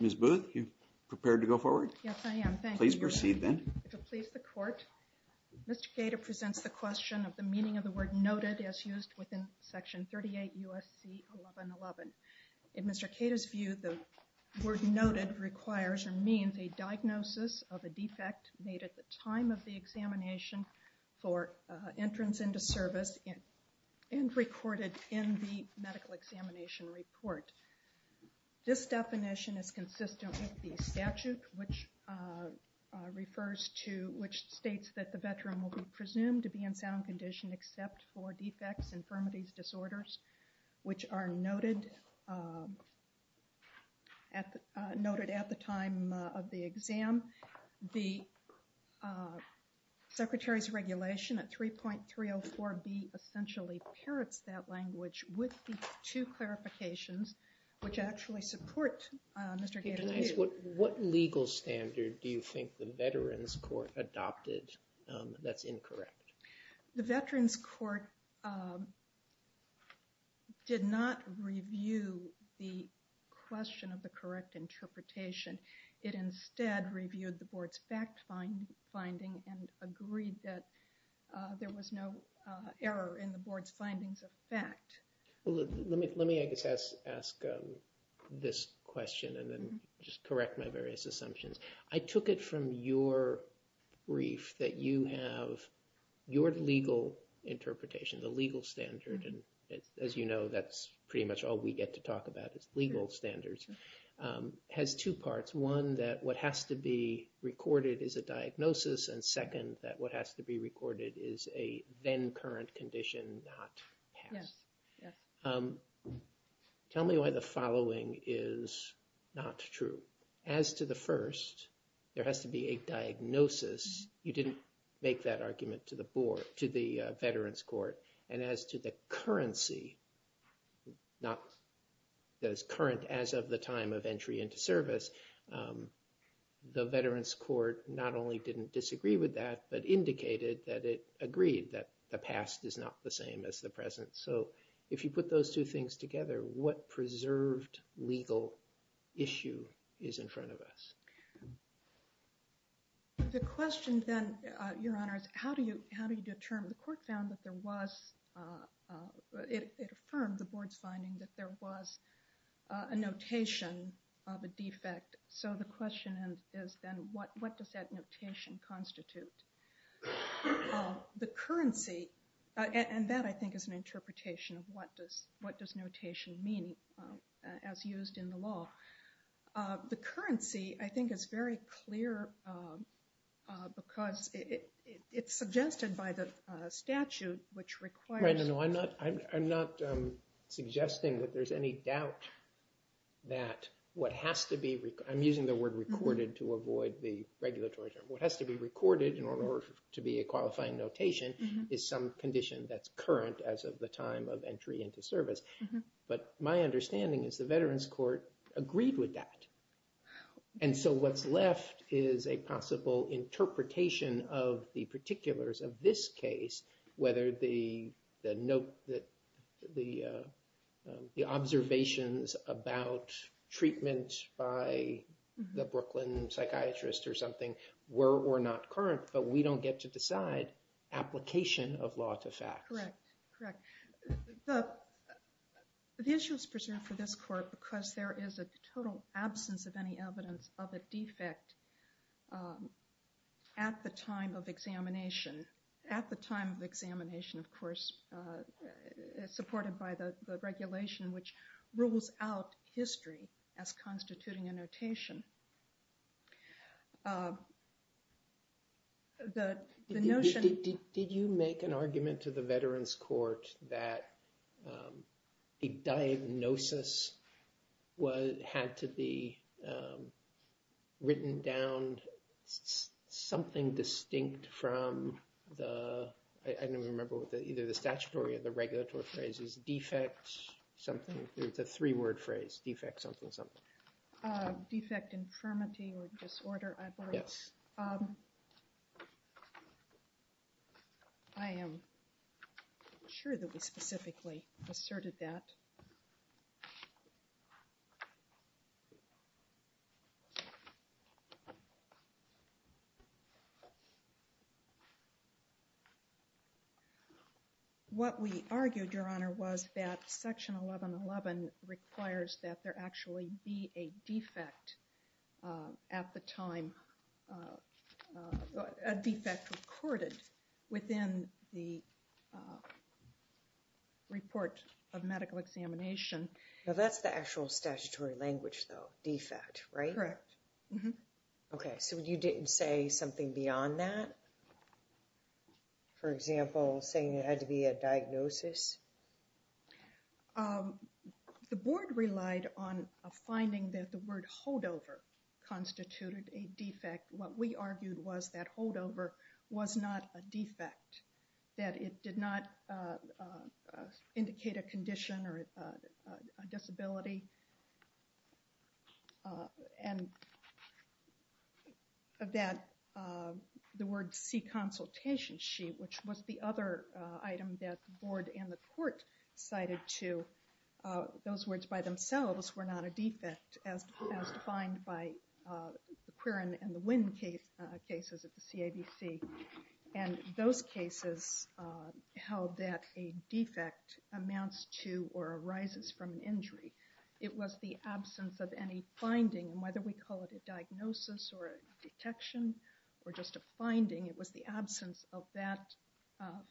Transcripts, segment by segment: Ms. Booth, are you prepared to go forward? Yes, I am. Thank you. Please proceed then. If it pleases the Court, Mr. Gaeta presents the question of the meaning of the word noted as used within Section 38 U.S.C. 1111. In Mr. Gaeta's view, the word noted requires or means a diagnosis of a defect made at the time of the examination for entrance into service and recorded in the medical examination report. This definition is consistent with the statute which states that the veteran will be presumed to be in sound condition except for defects, infirmities, disorders, which are noted at the time of the exam. The Secretary's regulation at 3.304b essentially parrots that language with the two clarifications which actually support Mr. Gaeta's view. What legal standard do you think the Veterans Court adopted that's incorrect? The Veterans Court did not review the question of the correct interpretation. It instead reviewed the Board's fact finding and agreed that there was no error in the Board's findings of fact. Let me, I guess, ask this question and then just correct my various assumptions. I took it from your brief that you have your legal interpretation, the legal standard. And as you know, that's pretty much all we get to talk about is legal standards. It has two parts. One, that what has to be recorded is a diagnosis. And second, that what has to be recorded is a then current condition, not past. Yes. Tell me why the following is not true. As to the first, there has to be a diagnosis. You didn't make that argument to the Board, to the Veterans Court. And as to the currency, not that it's current as of the time of entry into service, the Veterans Court not only didn't disagree with that, but indicated that it agreed that the past is not the same as the present. So if you put those two things together, what preserved legal issue is in front of us? The question then, Your Honor, is how do you determine? The Court found that there was, it affirmed the Board's finding that there was a notation of a defect. So the question is then what does that notation constitute? The currency, and that I think is an interpretation of what does notation mean as used in the law. The currency, I think, is very clear because it's suggested by the statute which requires. I'm not suggesting that there's any doubt that what has to be, I'm using the word recorded to avoid the regulatory term. What has to be recorded in order to be a qualifying notation is some condition that's current as of the time of entry into service. But my understanding is the Veterans Court agreed with that. And so what's left is a possible interpretation of the particulars of this case, whether the observations about treatment by the Brooklyn psychiatrist or something were or not current, but we don't get to decide application of law to fact. Correct, correct. The issue is preserved for this Court because there is a total absence of any evidence of a defect at the time of examination, at the time of examination, of course, supported by the regulation which rules out history as constituting a notation. Did you make an argument to the Veterans Court that a diagnosis had to be written down something distinct from the, I don't even remember, either the statutory or the regulatory phrases, defect something, it's a three-word phrase, defect something something. Defect infirmity or disorder, I believe. Yes. I am sure that we specifically asserted that. What we argued, Your Honor, was that Section 1111 requires that there actually be a defect at the time, a defect recorded within the report of medical examination. Now that's the actual statutory language though, defect, right? Correct. Okay, so you didn't say something beyond that? For example, saying it had to be a diagnosis? The Board relied on a finding that the word holdover constituted a defect. What we argued was that holdover was not a defect, that it did not indicate a condition or a disability, and that the word C, consultation sheet, which was the other item that the Board and the Court cited to, those words by themselves were not a defect as defined by the Quirin and the Winn cases at the CABC, and those cases held that a defect amounts to or arises from an injury. It was the absence of any finding, and whether we call it a diagnosis or a detection or just a finding, it was the absence of that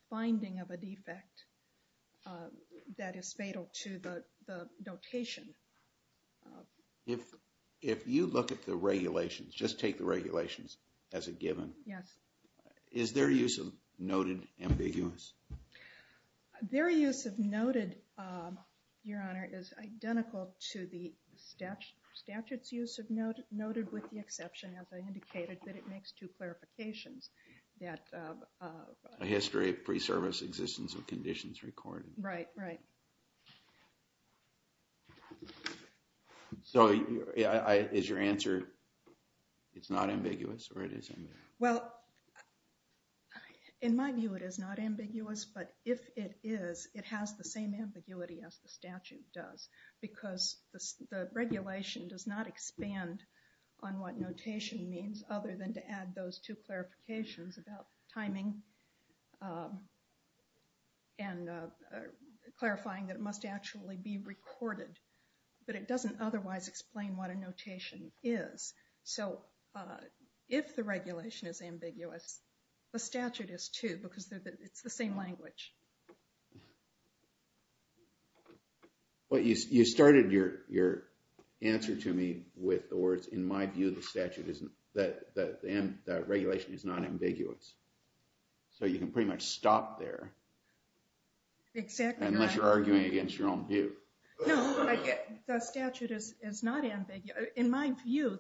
finding of a defect that is fatal to the notation. If you look at the regulations, just take the regulations as a given, is their use of noted ambiguous? Their use of noted, Your Honor, is identical to the statute's use of noted, noted with the exception, as I indicated, that it makes two clarifications, that... A history of pre-service existence of conditions recorded. Right, right. So is your answer, it's not ambiguous or it is ambiguous? Well, in my view it is not ambiguous, but if it is, it has the same ambiguity as the statute does, because the regulation does not expand on what notation means, other than to add those two clarifications about timing and clarifying that it must actually be recorded. But it doesn't otherwise explain what a notation is. So if the regulation is ambiguous, the statute is too, because it's the same language. You started your answer to me with the words, in my view, the regulation is not ambiguous. So you can pretty much stop there. Exactly right. Unless you're arguing against your own view. No, the statute is not ambiguous. In my view,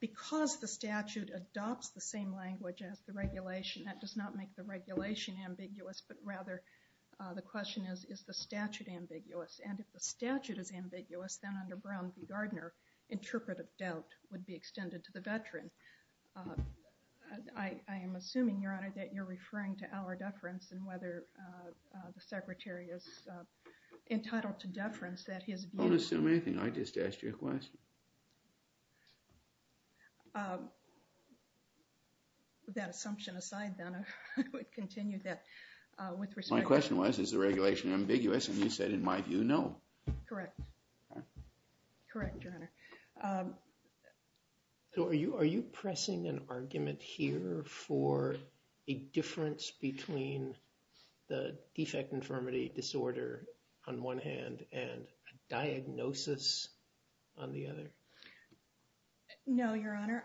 because the statute adopts the same language as the regulation, that does not make the regulation ambiguous, but rather the question is, is the statute ambiguous? And if the statute is ambiguous, then under Brown v. Gardner, interpretive doubt would be extended to the veteran. I am assuming, Your Honor, that you're referring to our deference and whether the Secretary is entitled to deference that his view... Don't assume anything. I just asked you a question. That assumption aside, then, I would continue that with respect... My question was, is the regulation ambiguous? And you said, in my view, no. Correct. Correct, Your Honor. So are you pressing an argument here for a difference between the defect infirmity disorder on one hand and a diagnosis on the other? No, Your Honor.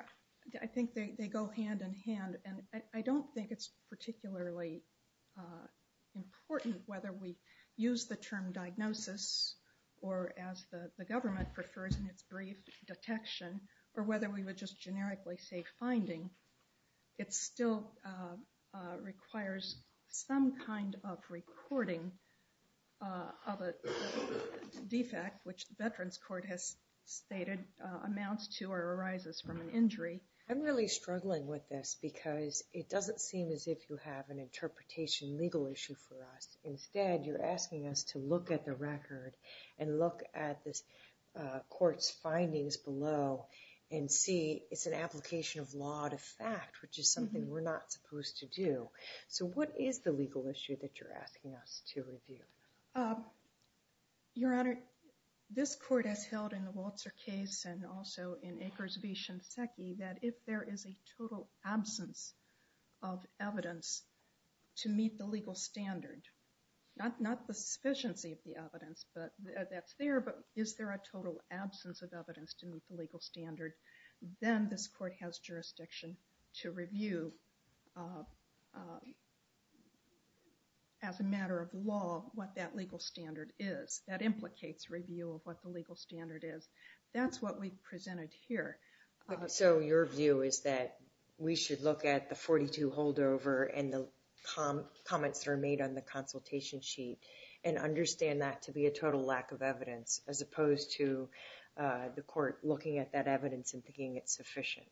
I think they go hand in hand, and I don't think it's particularly important whether we use the term diagnosis or, as the government prefers in its brief, detection, or whether we would just generically say finding. It still requires some kind of recording of a defect, which the Veterans Court has stated amounts to or arises from an injury. I'm really struggling with this because it doesn't seem as if you have an interpretation legal issue for us. Instead, you're asking us to look at the record and look at the court's findings below and see it's an application of law to fact, which is something we're not supposed to do. So what is the legal issue that you're asking us to review? Your Honor, this court has held in the Walter case and also in Akers v. Shinseki that if there is a total absence of evidence to meet the legal standard, not the sufficiency of the evidence that's there, but is there a total absence of evidence to meet the legal standard, then this court has jurisdiction to review, as a matter of law, what that legal standard is. That implicates review of what the legal standard is. That's what we've presented here. So your view is that we should look at the 42 holdover and the comments that are made on the consultation sheet and understand that to be a total lack of evidence, as opposed to the court looking at that evidence and thinking it's sufficient.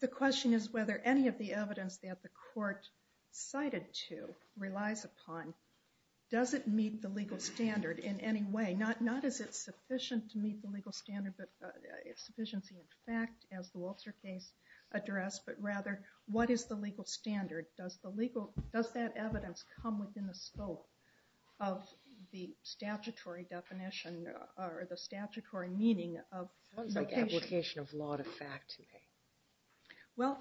The question is whether any of the evidence that the court cited to relies upon, does it meet the legal standard in any way? Not is it sufficient to meet the legal standard, but is sufficiency in fact, as the Walter case addressed, but rather what is the legal standard? Does that evidence come within the scope of the statutory definition or the statutory meaning of notation? It sounds like application of law to fact to me. Well,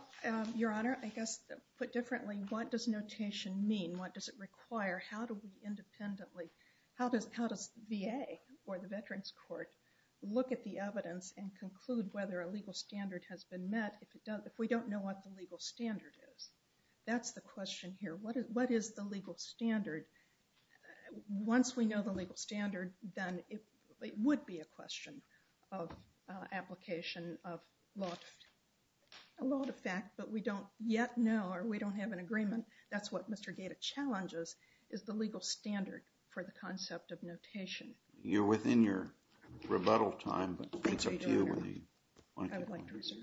Your Honor, I guess put differently, what does notation mean? What does it require? How do we independently, how does VA or the Veterans Court look at the evidence and conclude whether a legal standard has been met if we don't know what the legal standard is? That's the question here. What is the legal standard? Once we know the legal standard, then it would be a question of application of law to fact, but we don't yet know or we don't have an agreement. That's what Mr. Gaeta challenges is the legal standard for the concept of notation. You're within your rebuttal time, but it's up to you. I would like to reserve.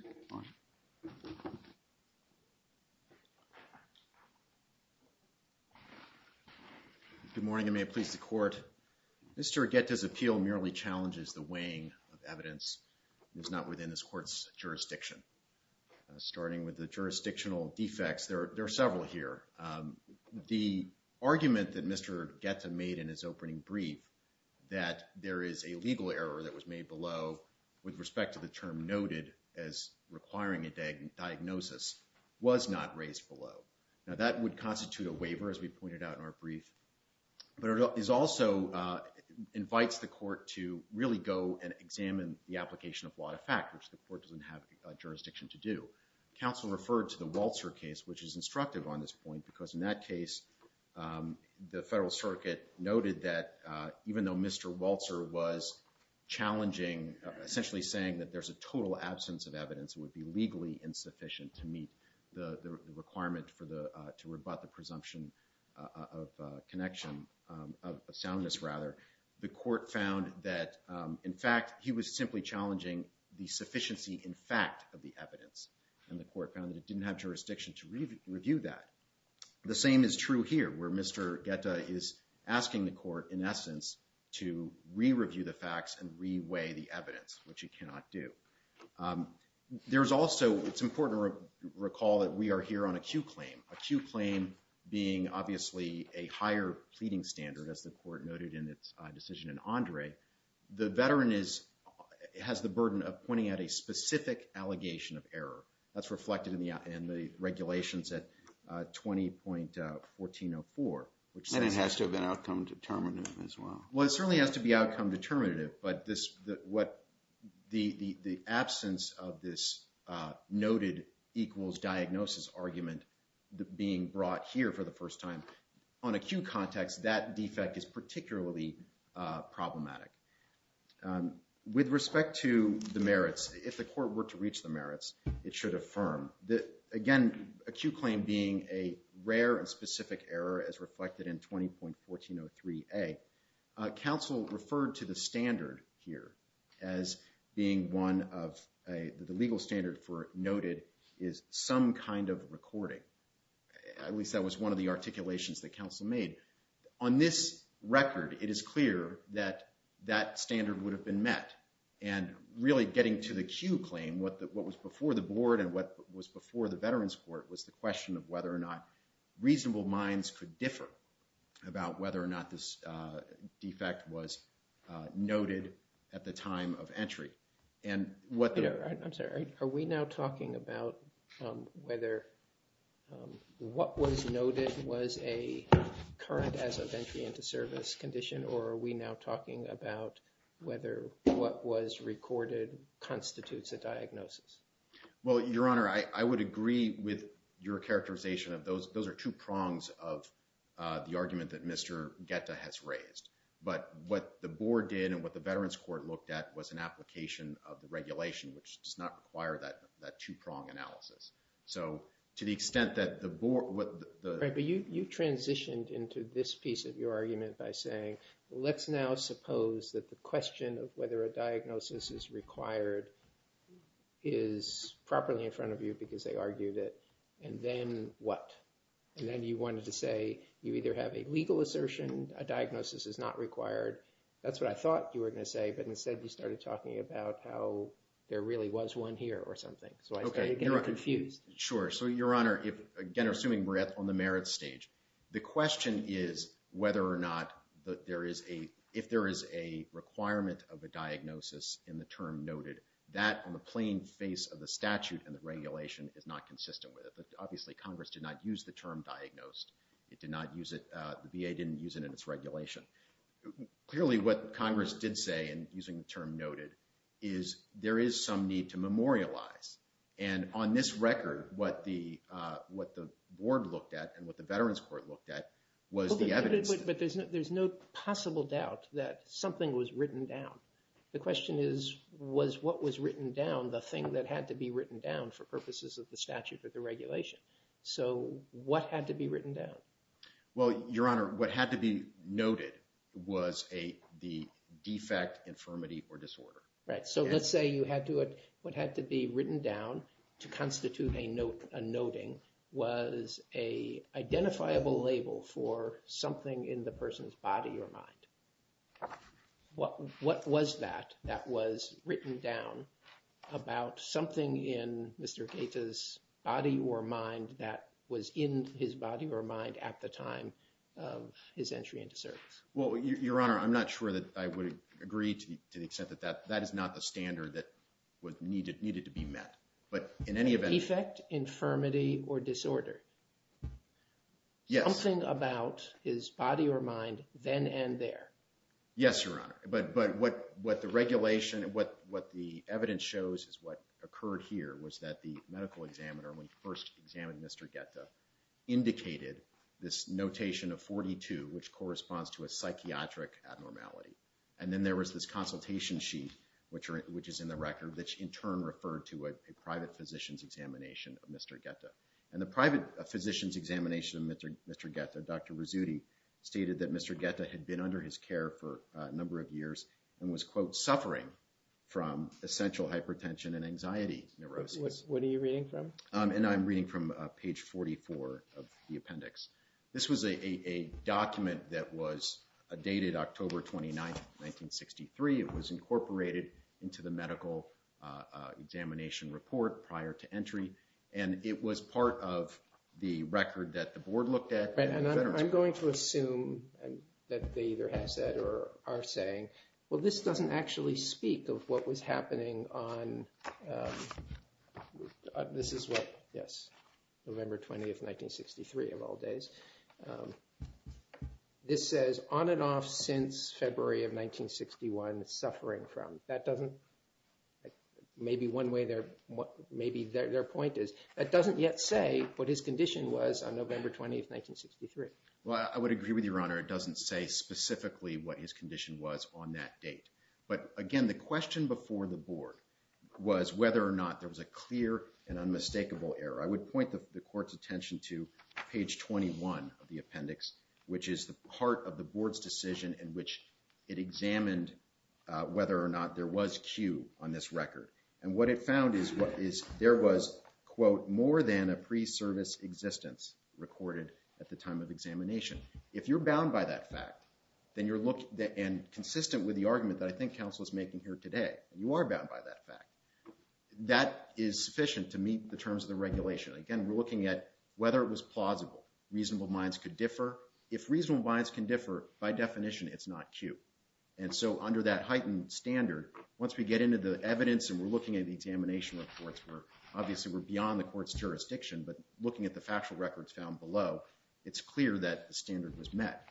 Good morning and may it please the court. Mr. Gaeta's appeal merely challenges the weighing of evidence that is not within this court's jurisdiction. Starting with the jurisdictional defects, there are several here. The argument that Mr. Gaeta made in his opening brief, that there is a legal error that was made below with respect to the term noted as requiring a diagnosis, was not raised below. Now, that would constitute a waiver, as we pointed out in our brief, but it also invites the court to really go and examine the application of law to fact, which the court doesn't have jurisdiction to do. Counsel referred to the Walter case, which is instructive on this point, because in that case, the Federal Circuit noted that even though Mr. Walter was challenging, essentially saying that there's a total absence of evidence would be legally insufficient to meet the requirement to rebut the presumption of connection, of soundness rather, the court found that, in fact, he was simply challenging the sufficiency in fact of the evidence, and the court found that it didn't have jurisdiction to review that. The same is true here, where Mr. Gaeta is asking the court, in essence, to re-review the facts and re-weigh the evidence, which it cannot do. There's also, it's important to recall that we are here on a Q claim, a Q claim being, obviously, a higher pleading standard, as the court noted in its decision in Andre. The veteran has the burden of pointing out a specific allegation of error. That's reflected in the regulations at 20.1404. And it has to have been outcome determinative as well. Well, it certainly has to be outcome determinative, but the absence of this noted equals diagnosis argument being brought here for the first time. On a Q context, that defect is particularly problematic. With respect to the merits, if the court were to reach the merits, it should affirm that, again, a Q claim being a rare and specific error as reflected in 20.1403A, counsel referred to the standard here as being one of the legal standard for noted is some kind of recording. At least that was one of the articulations that counsel made. On this record, it is clear that that standard would have been met. And really getting to the Q claim, what was before the board and what was before the veterans court was the question of whether or not reasonable minds could differ about whether or not this defect was noted at the time of entry. I'm sorry. Are we now talking about whether what was noted was a current as of entry into service condition, or are we now talking about whether what was recorded constitutes a diagnosis? Well, Your Honor, I would agree with your characterization of those. Those are two prongs of the argument that Mr. Geta has raised. But what the board did and what the veterans court looked at was an application of the regulation, which does not require that two-prong analysis. So to the extent that the board – But you transitioned into this piece of your argument by saying, let's now suppose that the question of whether a diagnosis is required is properly in front of you because they argued it, and then what? And then you wanted to say you either have a legal assertion, a diagnosis is not required. That's what I thought you were going to say, but instead you started talking about how there really was one here or something. So I started getting confused. Sure. So, Your Honor, again, assuming we're on the merits stage, the question is whether or not there is a – if there is a requirement of a diagnosis in the term noted, that on the plain face of the statute and the regulation is not consistent with it. Obviously, Congress did not use the term diagnosed. It did not use it. The VA didn't use it in its regulation. Clearly, what Congress did say in using the term noted is there is some need to memorialize. And on this record, what the board looked at and what the Veterans Court looked at was the evidence. But there's no possible doubt that something was written down. The question is, was what was written down the thing that had to be written down for purposes of the statute or the regulation? So what had to be written down? Well, Your Honor, what had to be noted was the defect, infirmity, or disorder. Right. So let's say you had to – what had to be written down to constitute a note, a noting, was a identifiable label for something in the person's body or mind. What was that that was written down about something in Mr. Gaeta's body or mind that was in his body or mind at the time of his entry into service? Well, Your Honor, I'm not sure that I would agree to the extent that that is not the standard that needed to be met. But in any event – Defect, infirmity, or disorder. Yes. Something about his body or mind then and there. Yes, Your Honor. But what the regulation – what the evidence shows is what occurred here was that the medical examiner, when he first examined Mr. Gaeta, indicated this notation of 42, which corresponds to a psychiatric abnormality. And then there was this consultation sheet, which is in the record, which in turn referred to a private physician's examination of Mr. Gaeta. And the private physician's examination of Mr. Gaeta, Dr. Rizzutti, stated that Mr. Gaeta had been under his care for a number of years and was, quote, suffering from essential hypertension and anxiety neuroses. What are you reading from? And I'm reading from page 44 of the appendix. This was a document that was dated October 29, 1963. It was incorporated into the medical examination report prior to entry. And it was part of the record that the board looked at. And I'm going to assume that they either have said or are saying, well, this doesn't actually speak of what was happening on – this is what – yes, November 20th, 1963 of all days. This says, on and off since February of 1961, suffering from. That doesn't – maybe one way their – maybe their point is. It doesn't yet say what his condition was on November 20th, 1963. Well, I would agree with Your Honor. It doesn't say specifically what his condition was on that date. But, again, the question before the board was whether or not there was a clear and unmistakable error. I would point the court's attention to page 21 of the appendix, which is the part of the board's decision in which it examined whether or not there was cue on this record. And what it found is there was, quote, more than a pre-service existence recorded at the time of examination. If you're bound by that fact, then you're – and consistent with the argument that I think counsel is making here today, you are bound by that fact. That is sufficient to meet the terms of the regulation. Again, we're looking at whether it was plausible. Reasonable minds could differ. If reasonable minds can differ, by definition, it's not cue. And so under that heightened standard, once we get into the evidence and we're looking at the examination reports, we're – obviously, we're beyond the court's jurisdiction. But looking at the factual records found below, it's clear that the standard was met.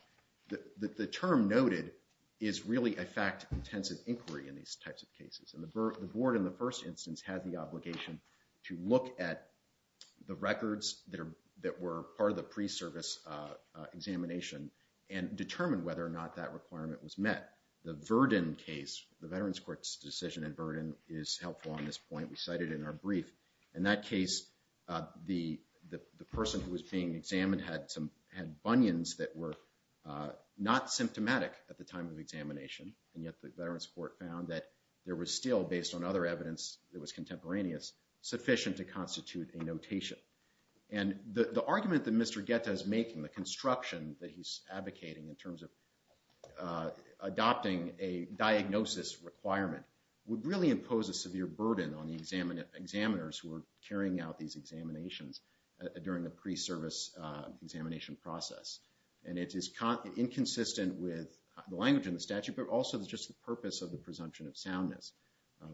The term noted is really a fact-intensive inquiry in these types of cases. And the board, in the first instance, had the obligation to look at the records that were part of the pre-service examination and determine whether or not that requirement was met. The Verdon case, the Veterans Court's decision in Verdon, is helpful on this point. We cite it in our brief. In that case, the person who was being examined had bunions that were not symptomatic at the time of examination. And yet the Veterans Court found that there was still, based on other evidence that was contemporaneous, sufficient to constitute a notation. And the argument that Mr. Guetta is making, the construction that he's advocating in terms of adopting a diagnosis requirement, would really impose a severe burden on the examiners who are carrying out these examinations during the pre-service examination process. And it is inconsistent with the language in the statute, but also it's just the purpose of the presumption of soundness,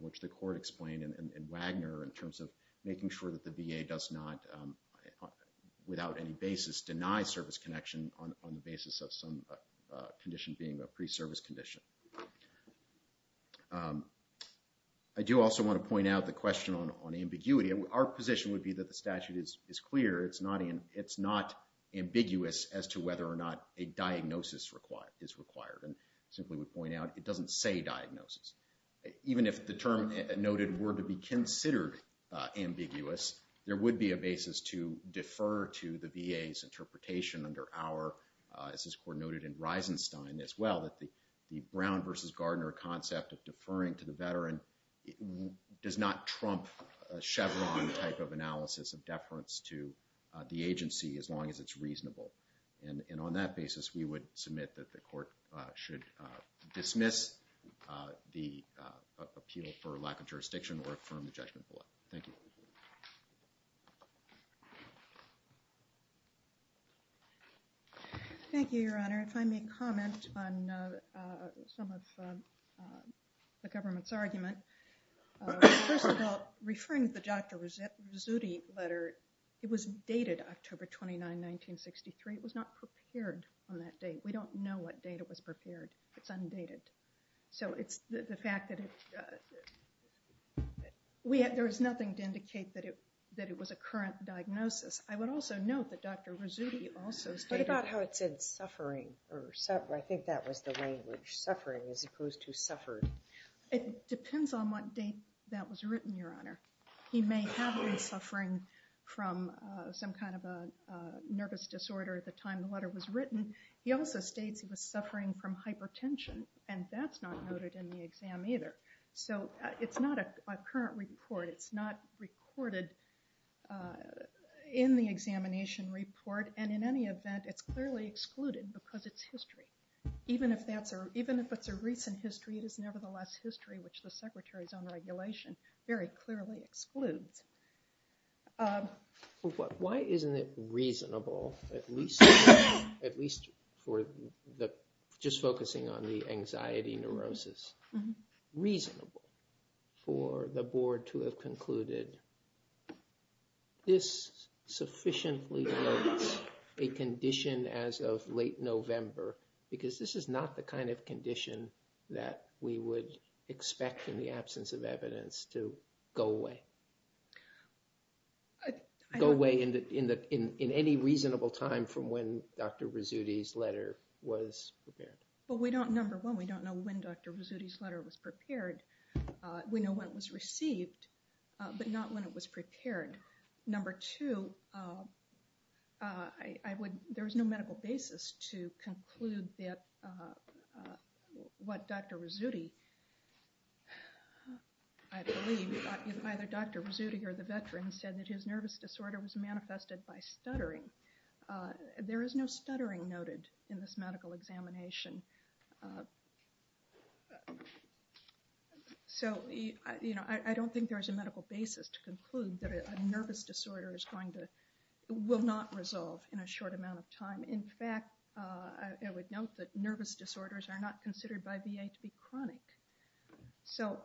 which the court explained in Wagner in terms of making sure that the VA does not, without any basis, deny service connection on the basis of some condition being a pre-service condition. I do also want to point out the question on ambiguity. Our position would be that the statute is clear. It's not ambiguous as to whether or not a diagnosis is required. And simply would point out, it doesn't say diagnosis. Even if the term noted were to be considered ambiguous, there would be a basis to defer to the VA's interpretation under our, as this court noted in Reisenstein as well, that the Brown versus Gardner concept of deferring to the veteran does not trump a Chevron type of analysis of deference to the agency as long as it's reasonable. And on that basis, we would submit that the court should dismiss the appeal for lack of jurisdiction or affirm the judgment below. Thank you. Thank you, Your Honor. If I may comment on some of the government's argument. First of all, referring to the Dr. Rizzutti letter, it was dated October 29, 1963. It was not prepared on that date. We don't know what date it was prepared. It's undated. So it's the fact that there's nothing to indicate that it was a current diagnosis. I would also note that Dr. Rizzutti also stated... What about how it said suffering? I think that was the language. Suffering as opposed to suffered. It depends on what date that was written, Your Honor. He may have been suffering from some kind of a nervous disorder at the time the letter was written. He also states he was suffering from hypertension, and that's not noted in the exam either. So it's not a current report. It's not recorded in the examination report. And in any event, it's clearly excluded because it's history. Even if it's a recent history, it is nevertheless history, which the Secretary's own regulation very clearly excludes. Why isn't it reasonable, at least for the... Just focusing on the anxiety neurosis. Reasonable for the Board to have concluded this sufficiently notes a condition as of late November, because this is not the kind of condition that we would expect in the absence of evidence to go away. Go away in any reasonable time from when Dr. Rizzutti's letter was prepared. But we don't, number one, we don't know when Dr. Rizzutti's letter was prepared. We know when it was received, but not when it was prepared. Number two, there is no medical basis to conclude that what Dr. Rizzutti, I believe, either Dr. Rizzutti or the veteran said that his nervous disorder was manifested by stuttering. There is no stuttering noted in this medical examination. So, you know, I don't think there is a medical basis to conclude that a nervous disorder is going to, will not resolve in a short amount of time. In fact, I would note that nervous disorders are not considered by VA to be chronic. So,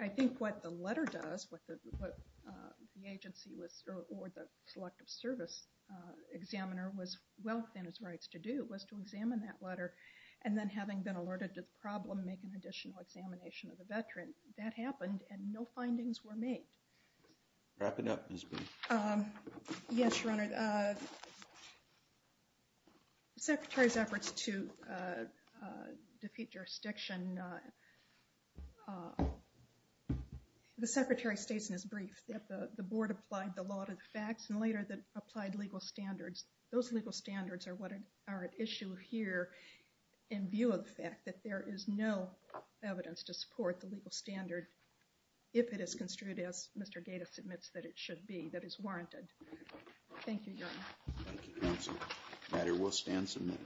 I think what the letter does, what the agency was, or the Selective Service Examiner was well within his rights to do, was to examine that letter and then having been alerted to the problem, make an additional examination of the veteran. That happened and no findings were made. Wrap it up, Ms. Booth. Yes, Your Honor. The Secretary's efforts to defeat jurisdiction, the Secretary states in his brief that the Board applied the law to the facts and later applied legal standards. Those legal standards are what are at issue here in view of the fact that there is no evidence to support the legal standard if it is construed as Mr. Gatiss admits that it should be, that it's warranted. Thank you, Your Honor. Thank you, counsel. The matter will stand submitted.